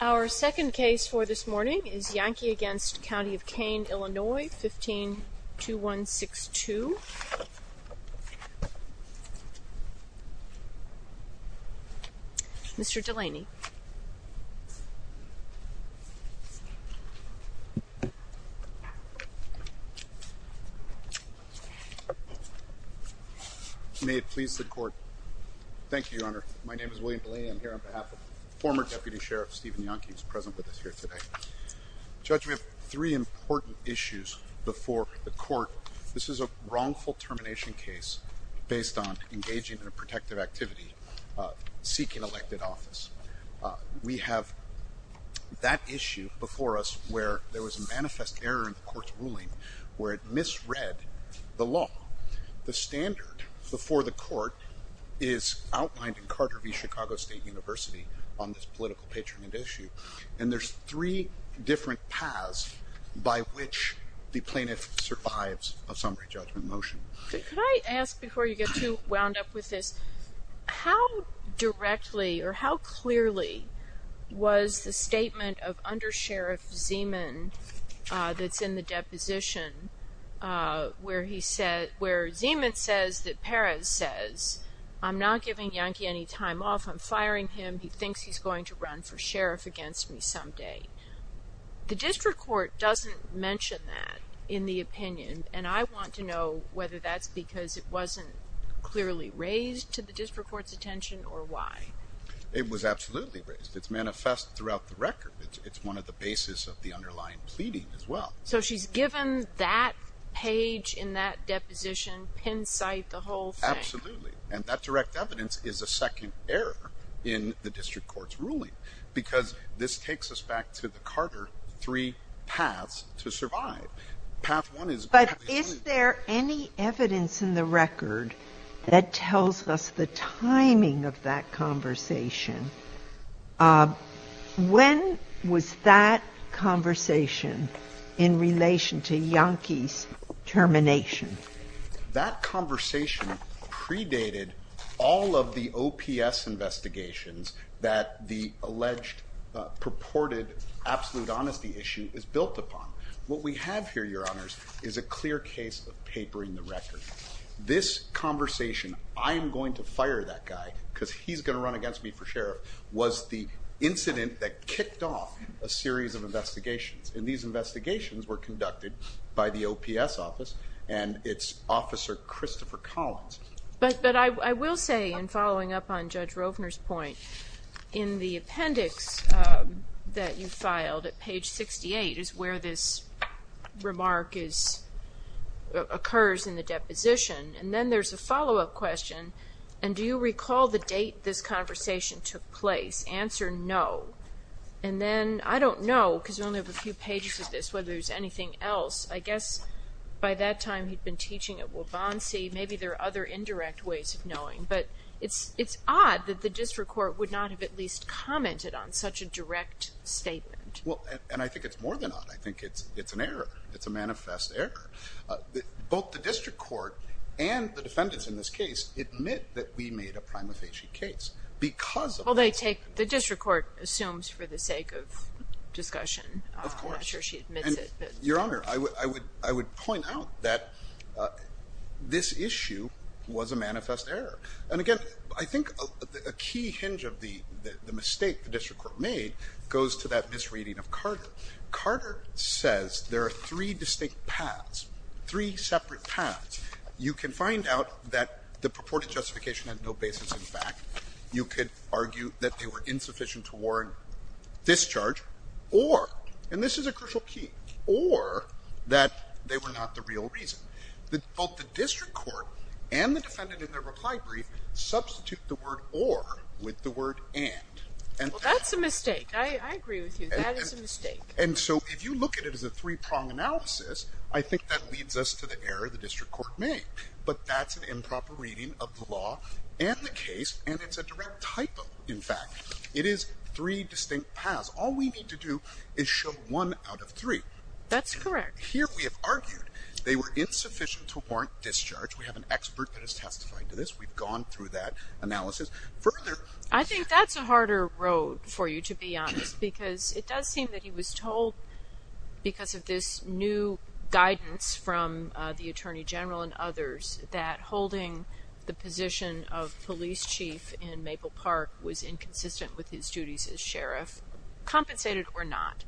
Our second case for this morning is Yahnke v. County of Kane, Illinois, 15-2162, Mr. Delaney. May it please the court. Thank you, Your Honor. My name is William Delaney. I'm here on behalf of Stephen Yahnke who's present with us here today. Judge, we have three important issues before the court. This is a wrongful termination case based on engaging in a protective activity, seeking elected office. We have that issue before us where there was a manifest error in the court's ruling where it misread the law. The standard before the court is outlined in Carter v. Chicago State University on this political patronage issue, and there's three different paths by which the plaintiff survives a summary judgment motion. Could I ask before you get too wound up with this, how directly or how clearly was the statement of undersheriff Zeman that's in the deposition where he said where Zeman says that Perez says, I'm not giving Yahnke any time off. I'm firing him. He thinks he's going to run for sheriff against me someday. The district court doesn't mention that in the opinion, and I want to know whether that's because it wasn't clearly raised to the district court's attention or why. It was absolutely raised. It's manifest throughout the record. It's one of the basis of the underlying pleading as well. So she's given that page in that deposition, pin site, the whole thing. Absolutely. And that direct evidence is a second error in the district court's ruling because this takes us back to the Carter three paths to survive. But is there any evidence in the record that tells us the timing of that That conversation predated all of the OPS investigations that the alleged purported absolute honesty issue is built upon. What we have here, your honors is a clear case of papering the record. This conversation, I'm going to fire that guy because he's going to run against me for sheriff was the incident that kicked off a series of investigations. And these investigations were and it's officer Christopher Collins. But I will say in following up on Judge Rovner's point in the appendix that you filed at page 68 is where this remark is occurs in the deposition. And then there's a follow up question. And do you recall the date this conversation took place? Answer? No. And then I don't know, because we only have a few pages of this, whether there's anything else, I guess, by that time, he'd been teaching at Waubonsie. Maybe there are other indirect ways of knowing, but it's it's odd that the district court would not have at least commented on such a direct statement. Well, and I think it's more than that. I think it's it's an error. It's a manifest error. Both the district court and the defendants in this case admit that we made a prima facie case because well, they take the district court assumes for the sake of discussion. I'm not sure she admits it. Your Honor, I would I would I would point out that this issue was a manifest error. And again, I think a key hinge of the mistake the district court made goes to that misreading of Carter. Carter says there are three distinct paths, three separate paths. You can find out that the purported justification had no basis. In fact, you could argue that they were insufficient to warrant discharge or and this is a crucial key or that they were not the real reason that both the district court and the defendant in their reply brief substitute the word or with the word and. And that's a mistake. I agree with you. That is a mistake. And so if you look at it as a three-pronged analysis, I think that leads us to the error the district court made. But that's an three distinct paths. All we need to do is show one out of three. That's correct. Here we have argued they were insufficient to warrant discharge. We have an expert that has testified to this. We've gone through that analysis further. I think that's a harder road for you, to be honest, because it does seem that he was told because of this new guidance from the attorney general and others that holding the position of police chief in Maple Park was inconsistent with his duties as sheriff, compensated or not.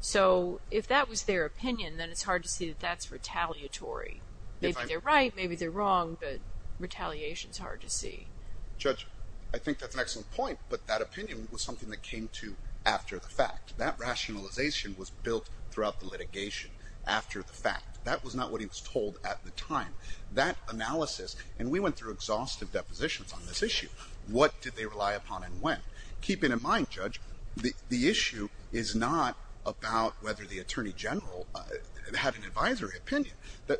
So if that was their opinion, then it's hard to see that that's retaliatory. Maybe they're right, maybe they're wrong, but retaliation is hard to see. Judge, I think that's an excellent point, but that opinion was something that came to after the fact. That rationalization was built throughout the litigation after the fact. That was not what he was told at the time. That analysis, and we went through exhaustive positions on this issue. What did they rely upon and when? Keep in mind, Judge, the issue is not about whether the attorney general had an advisory opinion.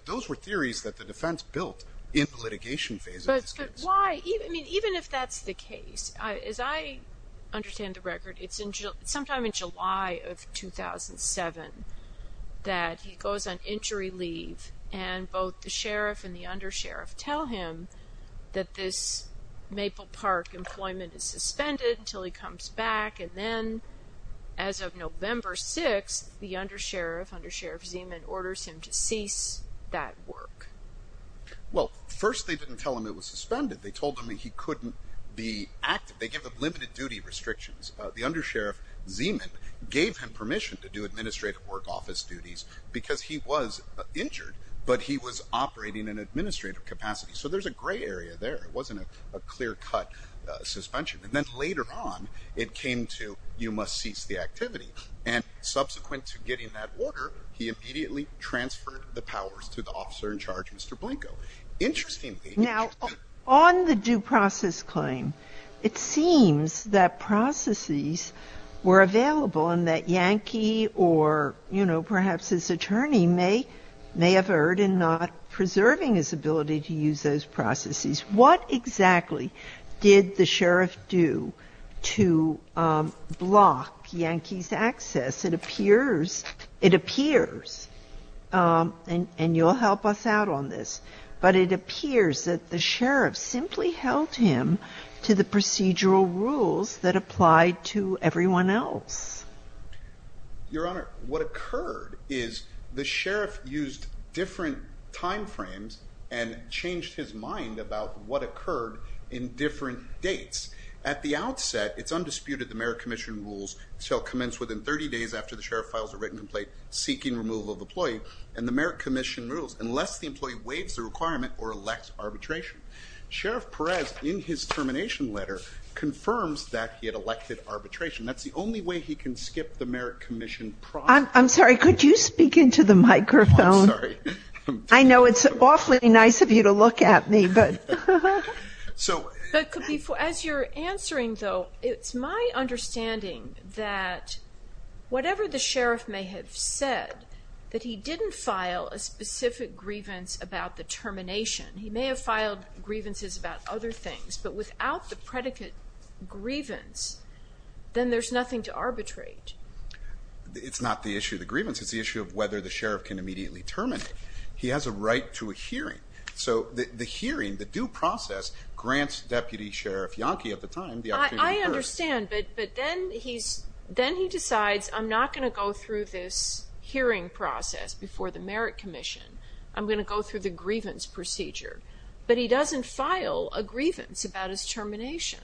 Those were theories that the defense built in the litigation phase. But why? I mean, even if that's the case, as I understand the record, it's sometime in July of 2007 that he goes on injury leave, and both the sheriff and the undersheriff tell him that this Maple Park employment is suspended until he comes back. And then as of November 6th, the undersheriff, undersheriff Zeman, orders him to cease that work. Well, first they didn't tell him it was suspended. They told him he couldn't be active. They give him limited duty restrictions. The undersheriff Zeman gave permission to do administrative work, office duties, because he was injured, but he was operating in administrative capacity. So there's a gray area there. It wasn't a clear cut suspension. And then later on, it came to, you must cease the activity. And subsequent to getting that order, he immediately transferred the powers to the officer in charge, Mr. Blanco. Interestingly, Now, on the due process claim, it seems that processes were available and that Yankee or, you know, perhaps his attorney may have erred in not preserving his ability to use those processes. What exactly did the sheriff do to block Yankee's access? It appears, it appears, and you'll help us out on this, but it appears that the sheriff simply held him to the procedural rules that applied to everyone else. Your Honor, what occurred is the sheriff used different timeframes and changed his mind about what occurred in different dates. At the outset, it's undisputed the merit commission rules shall employ, and the merit commission rules, unless the employee waives the requirement or elects arbitration. Sheriff Perez, in his termination letter, confirms that he had elected arbitration. That's the only way he can skip the merit commission process. I'm sorry, could you speak into the microphone? I know it's awfully nice of you to look at me, but. As you're answering, though, it's my understanding that whatever the sheriff may have said, that he didn't file a specific grievance about the termination. He may have filed grievances about other things, but without the predicate grievance, then there's nothing to arbitrate. It's not the issue of the grievance, it's the issue of whether the sheriff can immediately terminate. He has a right to a hearing, so the hearing, the due process, grants Deputy Sheriff Yankee at the time the opportunity. I understand, but then he's, then he decides I'm not going to go through this hearing process before the merit commission. I'm going to go through the grievance procedure, but he doesn't file a grievance about his termination.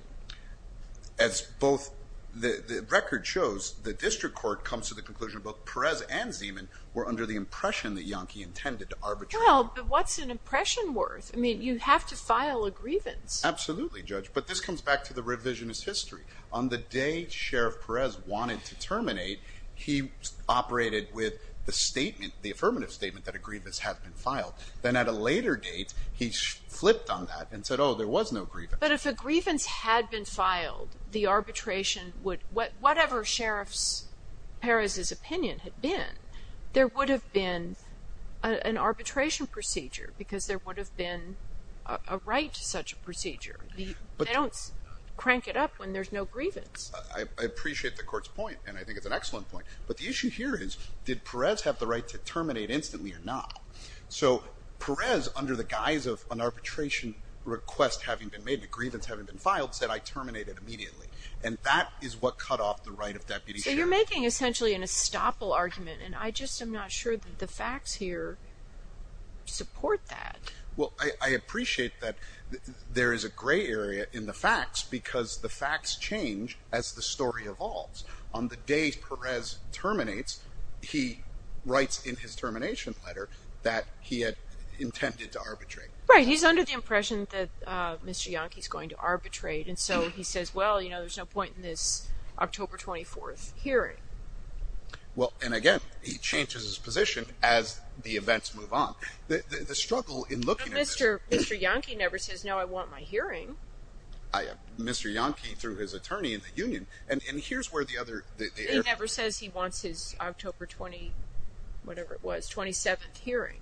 As both the record shows, the district court comes to the conclusion both Perez and Zeman were under the impression that Yankee intended to arbitrate. Well, but what's an impression worth? I mean, you have to file a grievance. Absolutely, Judge, but this comes back to the revisionist history. On the day Sheriff Perez wanted to terminate, he operated with the statement, the affirmative statement that a grievance had been filed. Then at a later date, he flipped on that and said, oh, there was no grievance. But if a grievance had been filed, the arbitration would, whatever Sheriff Perez's opinion had been, there would have been an arbitration procedure because there would have been a right to such a procedure. They don't crank it up when there's no grievance. I appreciate the court's point, and I think it's an excellent point. But the issue here is, did Perez have the right to terminate instantly or not? So Perez, under the guise of an arbitration request having been made, the grievance having been filed, said, I terminate it immediately. And that is what cut off the right of deputies. So you're making essentially an estoppel argument, and I just am not sure that the facts here support that. Well, I appreciate that there is a gray area in the facts because the facts change as the story evolves. On the day Perez terminates, he writes in his termination letter that he had intended to arbitrate. Right. He's under the impression that Mr. Yankee's going to arbitrate. And so he says, well, you know, there's no point in this October 24th hearing. Well, and again, he changes his position as the events move on. The struggle in looking at this- But Mr. Yankee never says, no, I want my hearing. Mr. Yankee, through his attorney in the union, and here's where the other- He never says he wants his October 20, whatever it was, 27th hearing.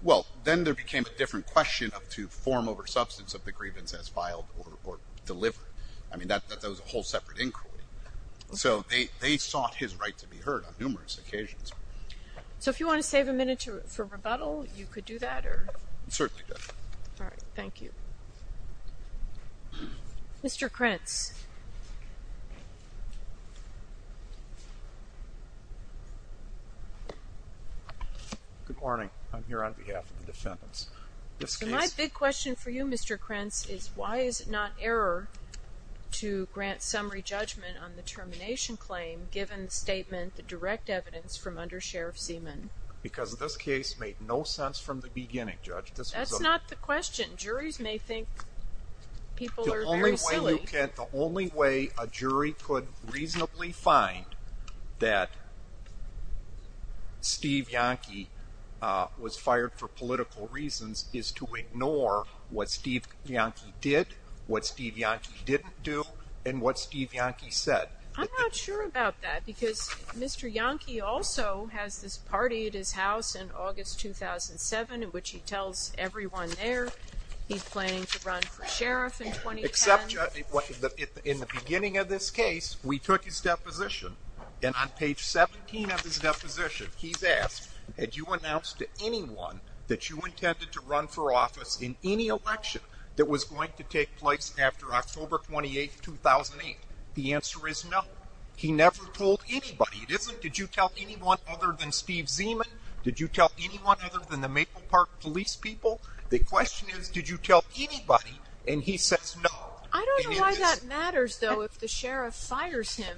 Well, then there became a different question to form over substance of the grievance as filed or delivered. I mean, that was a whole separate inquiry. So they sought his right to be heard on numerous occasions. So if you want to save a minute for rebuttal, you could do that or- Certainly do. All right. Thank you. Mr. Krentz. Good morning. I'm here on behalf of the defendants. My big question for you, Mr. Krentz, is why is it not error to grant summary judgment on the termination claim given the statement, the direct evidence from under Sheriff Seaman? Because this case made no sense from the beginning, Judge. That's not the question. Juries may think people are very silly. The only way a jury could reasonably find that Steve Yankee was fired for political reasons is to ignore what Steve Yankee did, what Steve Yankee didn't do, and what Steve Yankee said. I'm not sure about that because Mr. Yankee also has this party at his house in August 2007, in which he tells everyone there he's planning to run for sheriff in 2010. In the beginning of this case, we took his deposition, and on page 17 of his deposition, he's asked, had you announced to anyone that you intended to run for office in any election that was going to take place after October 28, 2008? The answer is no. He never told anybody. It isn't, did you tell anyone other than Steve Seaman? Did you tell anyone other than the Maple Park Police people? The question is, did you tell anybody? And he says no. I don't know why that matters, though, if the sheriff fires him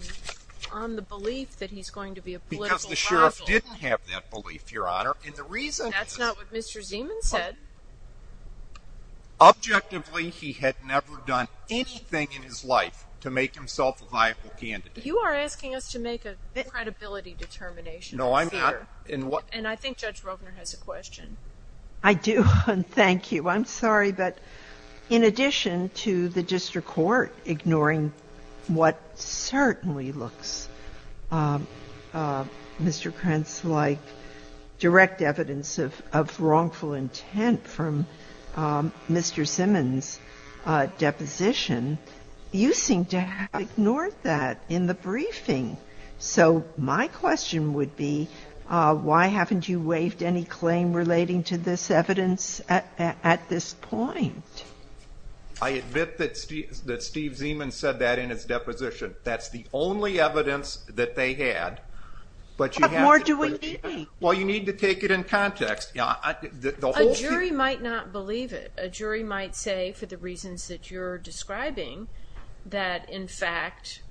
on the belief that he's going to be a political rival. Because the sheriff didn't have that belief, Your Honor. And the reason is... That's not what Mr. Seaman said. Objectively, he had never done anything in his life to make himself a viable candidate. You are asking us to make a credibility determination. No, I'm not. And I think Judge Rovner has a question. I do, and thank you. I'm sorry, but in addition to the district court ignoring what certainly looks, Mr. Krentz, like direct evidence of wrongful intent from Mr. Seaman's deposition, you seem to have ignored that in the briefing. So my question would be, why haven't you waived any claim relating to this evidence at this point? I admit that Steve Seaman said that in his deposition. That's the only evidence that they had. What more do we need? Well, you need to take it in context. A jury might not believe it. A jury might say, for the reasons that you're describing, that in fact,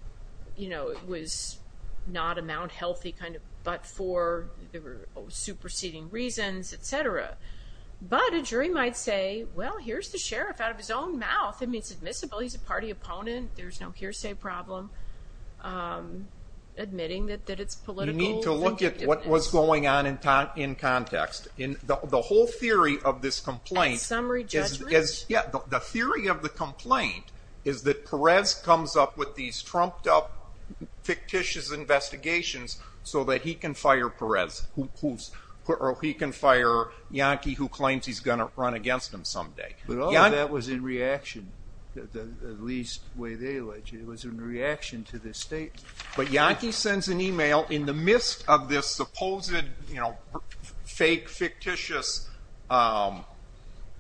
you know, it was not a Mount Healthy kind of, but for the superseding reasons, etc. But a jury might say, well, here's the sheriff out of his own mouth. I mean, it's admissible. He's a party opponent. There's no hearsay problem admitting that it's political. You need to look at what was going on in context. The whole theory of this complaint is that Perez comes up with these trumped-up fictitious investigations so that he can fire Perez, or he can fire Yankee, who claims he's going to run against him someday. But all of that was in reaction, at least the way they alleged it, was in reaction to this statement. But Yankee sends an email in the midst of this supposed fake fictitious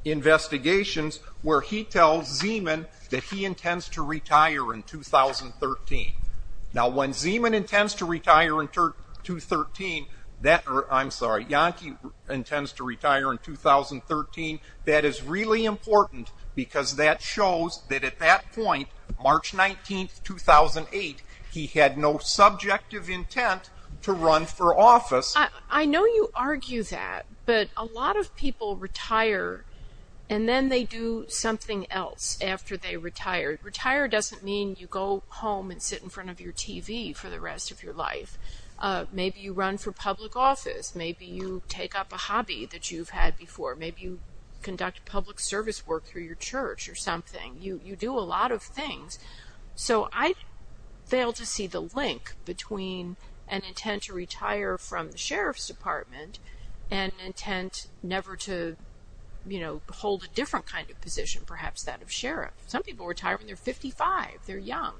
investigations where he tells Seaman that he intends to retire in 2013. Now, when Seaman intends to retire in 2013, or I'm sorry, Yankee intends to retire in 2013, that is really important because that shows that at that point, March 19, 2008, he had no subjective intent to run for office. I know you argue that, but a lot of people retire, and then they do something else after they retire. Retire doesn't mean you go home and sit in front of your TV for the rest of your life. Maybe you run for public office. Maybe you take up a hobby that you've had before. Maybe you conduct public service work through your church or something. You do a lot of things. So I fail to see the link between an intent to retire from the sheriff's department and intent never to, you know, hold a different kind of position, perhaps that of sheriff. Some people retire when they're 55. They're young.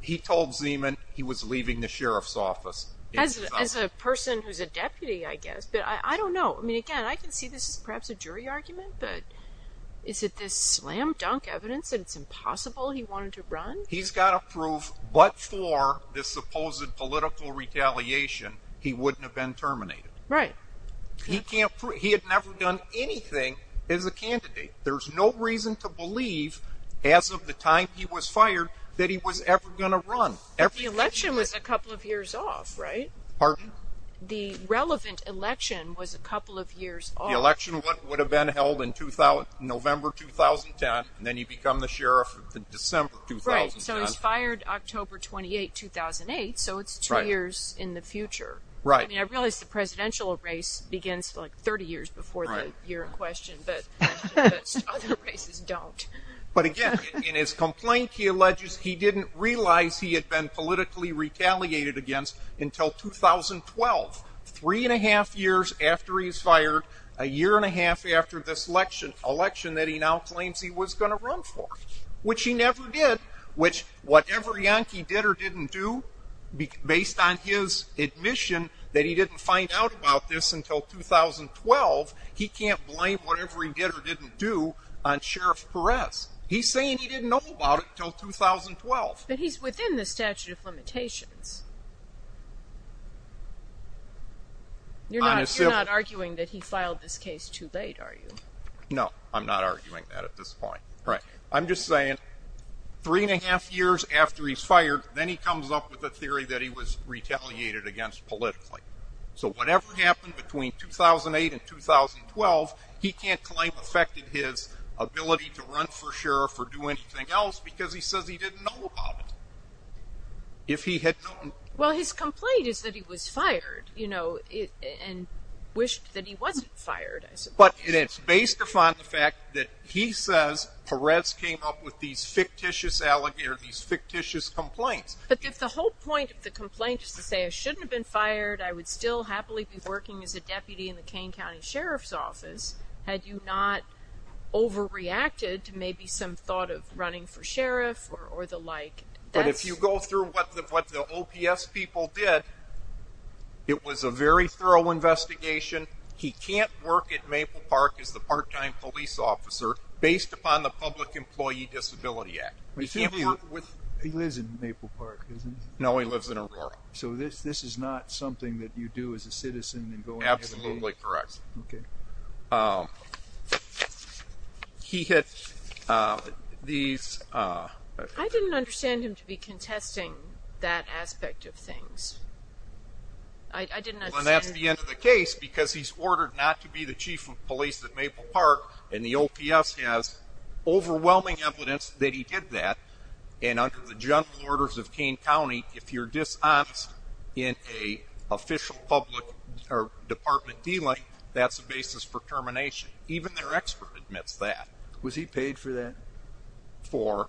He told Seaman he was leaving the sheriff's office. As a person who's a deputy, I guess, but I don't know. I mean, again, I can see this is perhaps a jury argument, but is it this slam-dunk evidence that it's impossible he wanted to run? He's got to prove, but for this supposed political retaliation, he wouldn't have been terminated. Right. He had never done anything as a candidate. There's no reason to believe as of the time he was fired, that he was ever going to run. The election was a couple of years off, right? Pardon? The relevant election was a couple of years off. The election would have been held in November 2010, and then you become the sheriff in December 2010. Right, so he's fired October 28, 2008, so it's two years in the future. Right. I mean, I realize the presidential race begins like 30 years before the year in question, but other races don't. But again, in his complaint, he alleges he didn't realize he had been politically retaliated against until 2012, three and a half years after he's fired, a year and a half after this election, election that he now claims he was going to run for, which he never did, which whatever Yankee did or didn't do, based on his admission that he didn't find out about this until 2012, he can't blame whatever he did or didn't do on Sheriff Perez. He's saying he didn't know about it until 2012. But he's within the statute of limitations. You're not arguing that he filed this case too late, are you? No, I'm not arguing that at this point. Right. I'm just saying three and a half years after he's fired, then he comes up with a theory that he was retaliated against politically. So whatever happened between 2008 and 2012, he can't claim affected his ability to run for sheriff or do anything else because he says he didn't know about it. Well, his complaint is that he was fired, you know, and wished that he wasn't fired. But it's based upon the fact that he says Perez came up with these fictitious complaints. But if the whole point of the complaint is to say I shouldn't have been fired, I would still happily be working as a deputy in the Kane County Sheriff's Office, had you not overreacted to maybe some thought of running for sheriff or the like. But if you go through what the OPS people did, it was a very thorough investigation. He can't work at Maple Park as the part-time police officer based upon the Public Employee Disability Act. He lives in Maple Park, doesn't he? No, he lives in Aurora. So this is not something that you do as a citizen Absolutely correct. Okay. He hit these... I didn't understand him to be contesting that aspect of things. I didn't... And that's the end of the case because he's ordered not to be the chief of police at Maple Park and the OPS has overwhelming evidence that he did that. And under the general orders of Kane County, if you're dishonest in an official public or department dealing, that's a basis for termination. Even their expert admits that. Was he paid for that? For?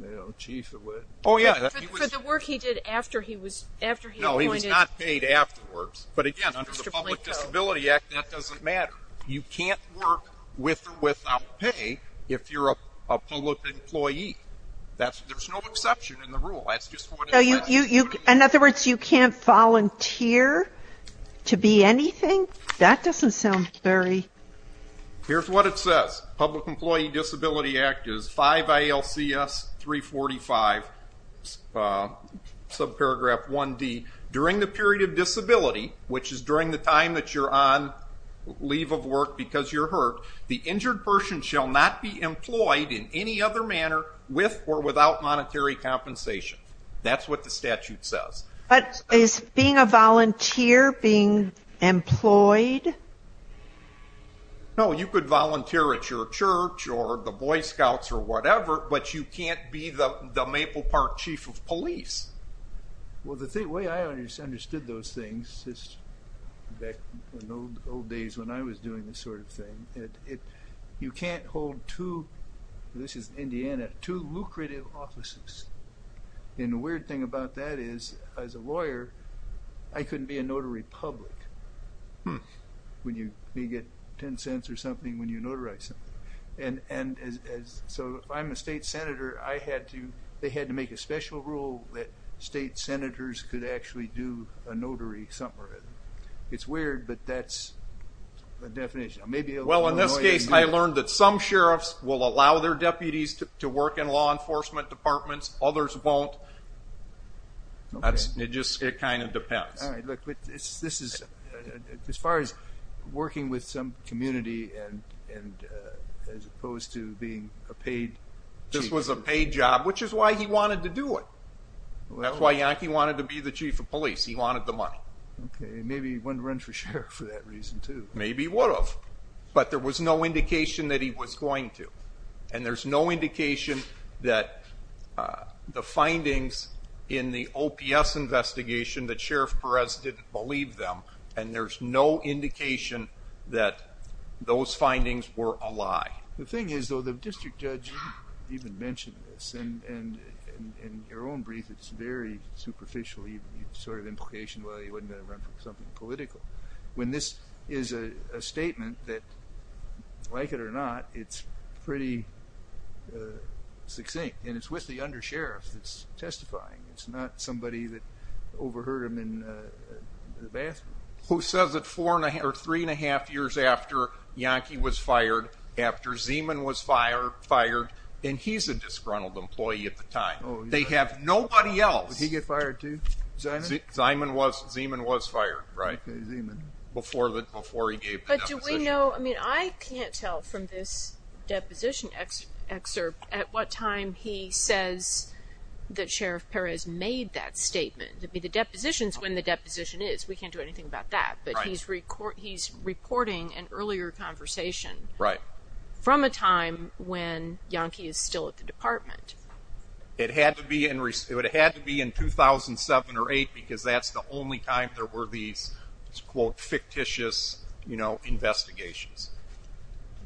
The work he did after he was... No, he was not paid afterwards. But again, under the Public Disability Act, that doesn't matter. You can't work with or without pay if you're a public employee. There's no exception in the rule. In other words, you can't volunteer to be anything? That doesn't sound very... Here's what it says. Public Employee Disability Act is 5 ALCS 345, subparagraph 1D. During the period of disability, which is during the time you're on leave of work because you're hurt, the injured person shall not be employed in any other manner with or without monetary compensation. That's what the statute says. Is being a volunteer being employed? No, you could volunteer at your church or the Boy Scouts or whatever, but you in the old days when I was doing this sort of thing, you can't hold two, this is Indiana, two lucrative offices. And the weird thing about that is as a lawyer, I couldn't be a notary public when you get 10 cents or something when you notarize something. So if I'm a state senator, they had to make a special rule that state senators could actually do a notary something or other. It's weird, but that's the definition. Well, in this case, I learned that some sheriffs will allow their deputies to work in law enforcement departments, others won't. It kind of depends. As far as working with some community and as opposed to being a paid... This was a paid job, which is why he wanted to do it. That's why Yankee wanted to the chief of police. He wanted the money. Okay. Maybe he wouldn't run for sheriff for that reason too. Maybe he would have, but there was no indication that he was going to. And there's no indication that the findings in the OPS investigation that Sheriff Perez didn't believe them. And there's no indication that those findings were a lie. The thing is though, District Judge, you even mentioned this, and in your own brief, it's very superficial. You sort of implication, well, he wasn't going to run for something political. When this is a statement that, like it or not, it's pretty succinct and it's with the under sheriff that's testifying. It's not somebody that overheard him in the bathroom. Who says that three and a half years after Yankee was fired, after Zeeman was fired, and he's a disgruntled employee at the time. They have nobody else. Did he get fired too? Zeeman was fired, right? Okay, Zeeman. Before he gave the deposition. But do we know, I mean, I can't tell from this deposition excerpt at what time he says that Sheriff Perez made that statement. I mean, the depositions, when the conversation. Right. From a time when Yankee is still at the department. It had to be in 2007 or 8 because that's the only time there were these, quote, fictitious investigations.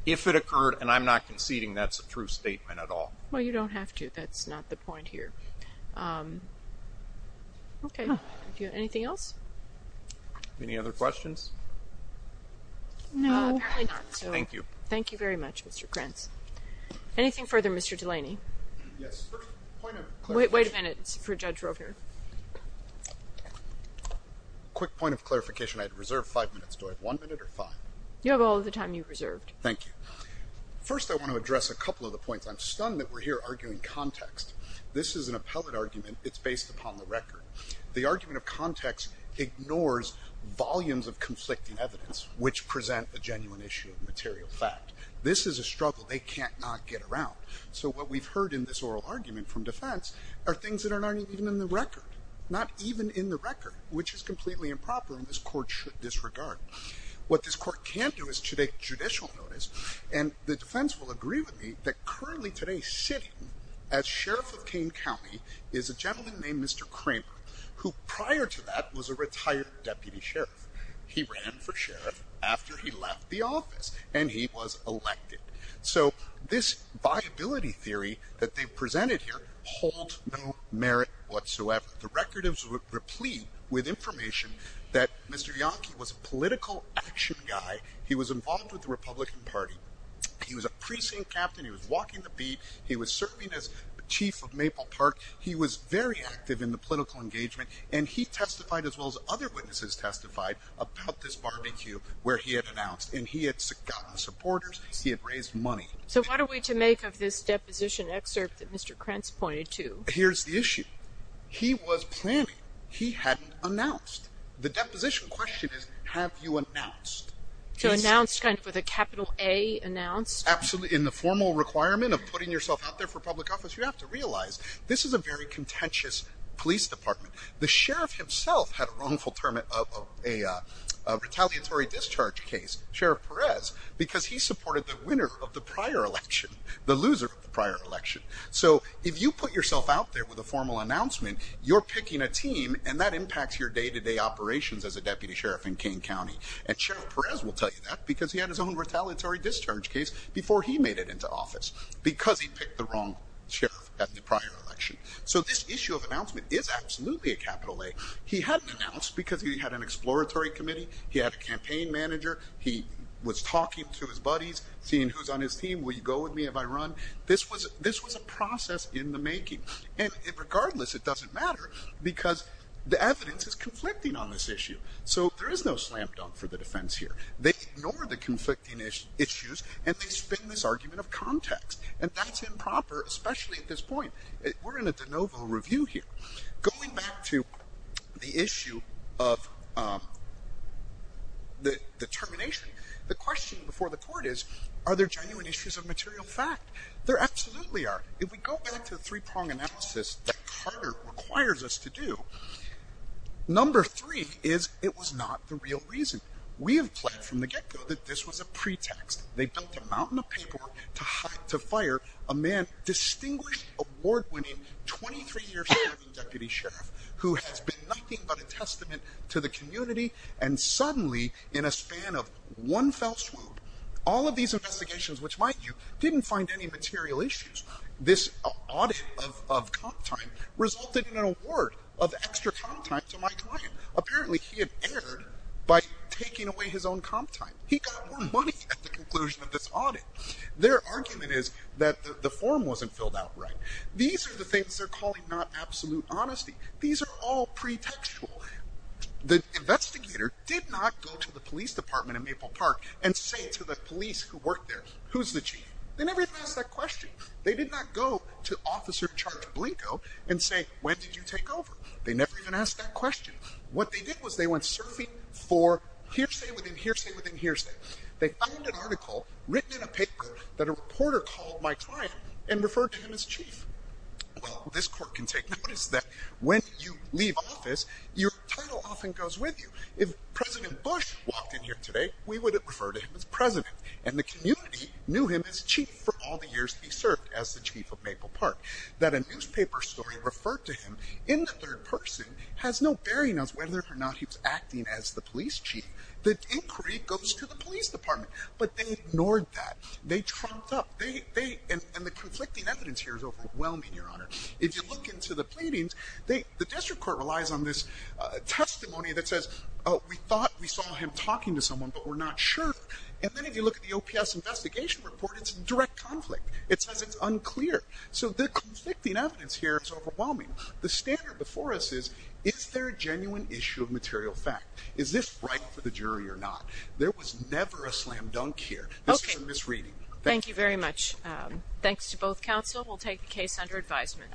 If it occurred, and I'm not conceding that's a true statement at all. Well, you don't have to. That's not the point Thank you. Thank you very much, Mr. Krantz. Anything further, Mr. Delaney? Yes. Wait a minute for Judge Rovner. Quick point of clarification. I had reserved five minutes. Do I have one minute or five? You have all the time you reserved. Thank you. First, I want to address a couple of the points. I'm stunned that we're here arguing context. This is an appellate argument. It's based upon the of material fact. This is a struggle they can't not get around. So what we've heard in this oral argument from defense are things that are not even in the record, not even in the record, which is completely improper. And this court should disregard what this court can't do is to take judicial notice. And the defense will agree with me that currently today sitting as sheriff of Kane County is a gentleman named Mr. Kramer, who prior to that was a retired deputy he ran for sheriff after he left the office and he was elected. So this viability theory that they presented here hold no merit whatsoever. The record is replete with information that Mr. Yankee was a political action guy. He was involved with the Republican Party. He was a precinct captain. He was walking the beat. He was serving as chief of Maple Park. He was very active in the political engagement and he testified as well as other witnesses testified about this barbecue where he had announced and he had gotten supporters. He had raised money. So what are we to make of this deposition excerpt that Mr. Krentz pointed to? Here's the issue. He was planning. He hadn't announced. The deposition question is, have you announced? So announced kind of with a capital A announced? Absolutely. In the formal requirement of putting yourself out there for public office, you have to realize this is a very contentious police department. The sheriff himself had a wrongful term of a retaliatory discharge case. Sheriff Perez, because he supported the winner of the prior election, the loser prior election. So if you put yourself out there with a formal announcement, you're picking a team and that impacts your day to day operations as a deputy sheriff in Kane County. And Sheriff Perez will tell you that because he had his own retaliatory discharge case before he made it into office because he picked the wrong sheriff at the prior election. So this issue of announcement is absolutely a capital A. He hadn't announced because he had an exploratory committee. He had a campaign manager. He was talking to his buddies, seeing who's on his team. Will you go with me if I run? This was this was a process in the making. And regardless, it doesn't matter because the evidence is conflicting on this issue. So there is no slam dunk for the defense here. They ignore the conflicting issues and they spin this argument of context. And that's improper, especially at this point. We're in a de novo review here. Going back to the issue of the termination, the question before the court is, are there genuine issues of material fact? There absolutely are. If we go back to the it was not the real reason we have played from the get go that this was a pretext. They built a mountain of paperwork to hire to fire a man, distinguished award winning 23 year serving deputy sheriff who has been nothing but a testament to the community. And suddenly, in a span of one fell swoop, all of these investigations, which might you didn't find any material issues. This audit of time resulted in an award of extra time to my apparently he had aired by taking away his own comp time. He got more money at the conclusion of this audit. Their argument is that the form wasn't filled out, right? These are the things they're calling not absolute honesty. These are all pretextual. The investigator did not go to the police department in Maple Park and say to the police who worked there, who's the chief? They never asked that question. They did not go to officer charge Blanco and say, when did you take over? They never even asked that question. What they did was they went surfing for hearsay within hearsay within hearsay. They found an article written in a paper that a reporter called my client and referred to him as chief. Well, this court can take notice that when you leave office, your title often goes with you. If President Bush walked in here today, we would refer to him as president and the community knew him as chief for all the years he served as the chief of Maple Park. That a newspaper story referred to him in the third person has no bearing on whether or not he was acting as the police chief. The inquiry goes to the police department, but they ignored that. They trumped up and the conflicting evidence here is overwhelming, your honor. If you look into the pleadings, the district court relies on this testimony that says, oh, we thought we saw him talking to someone, but we're not sure. And then if you look at the OPS investigation report, it's direct conflict. It says it's unclear. So the conflicting evidence here is overwhelming. The standard before us is, is there a genuine issue of material fact? Is this right for the jury or not? There was never a slam dunk here. This is a misreading. Thank you very much. Um, thanks to both council. We'll take the case under advisement.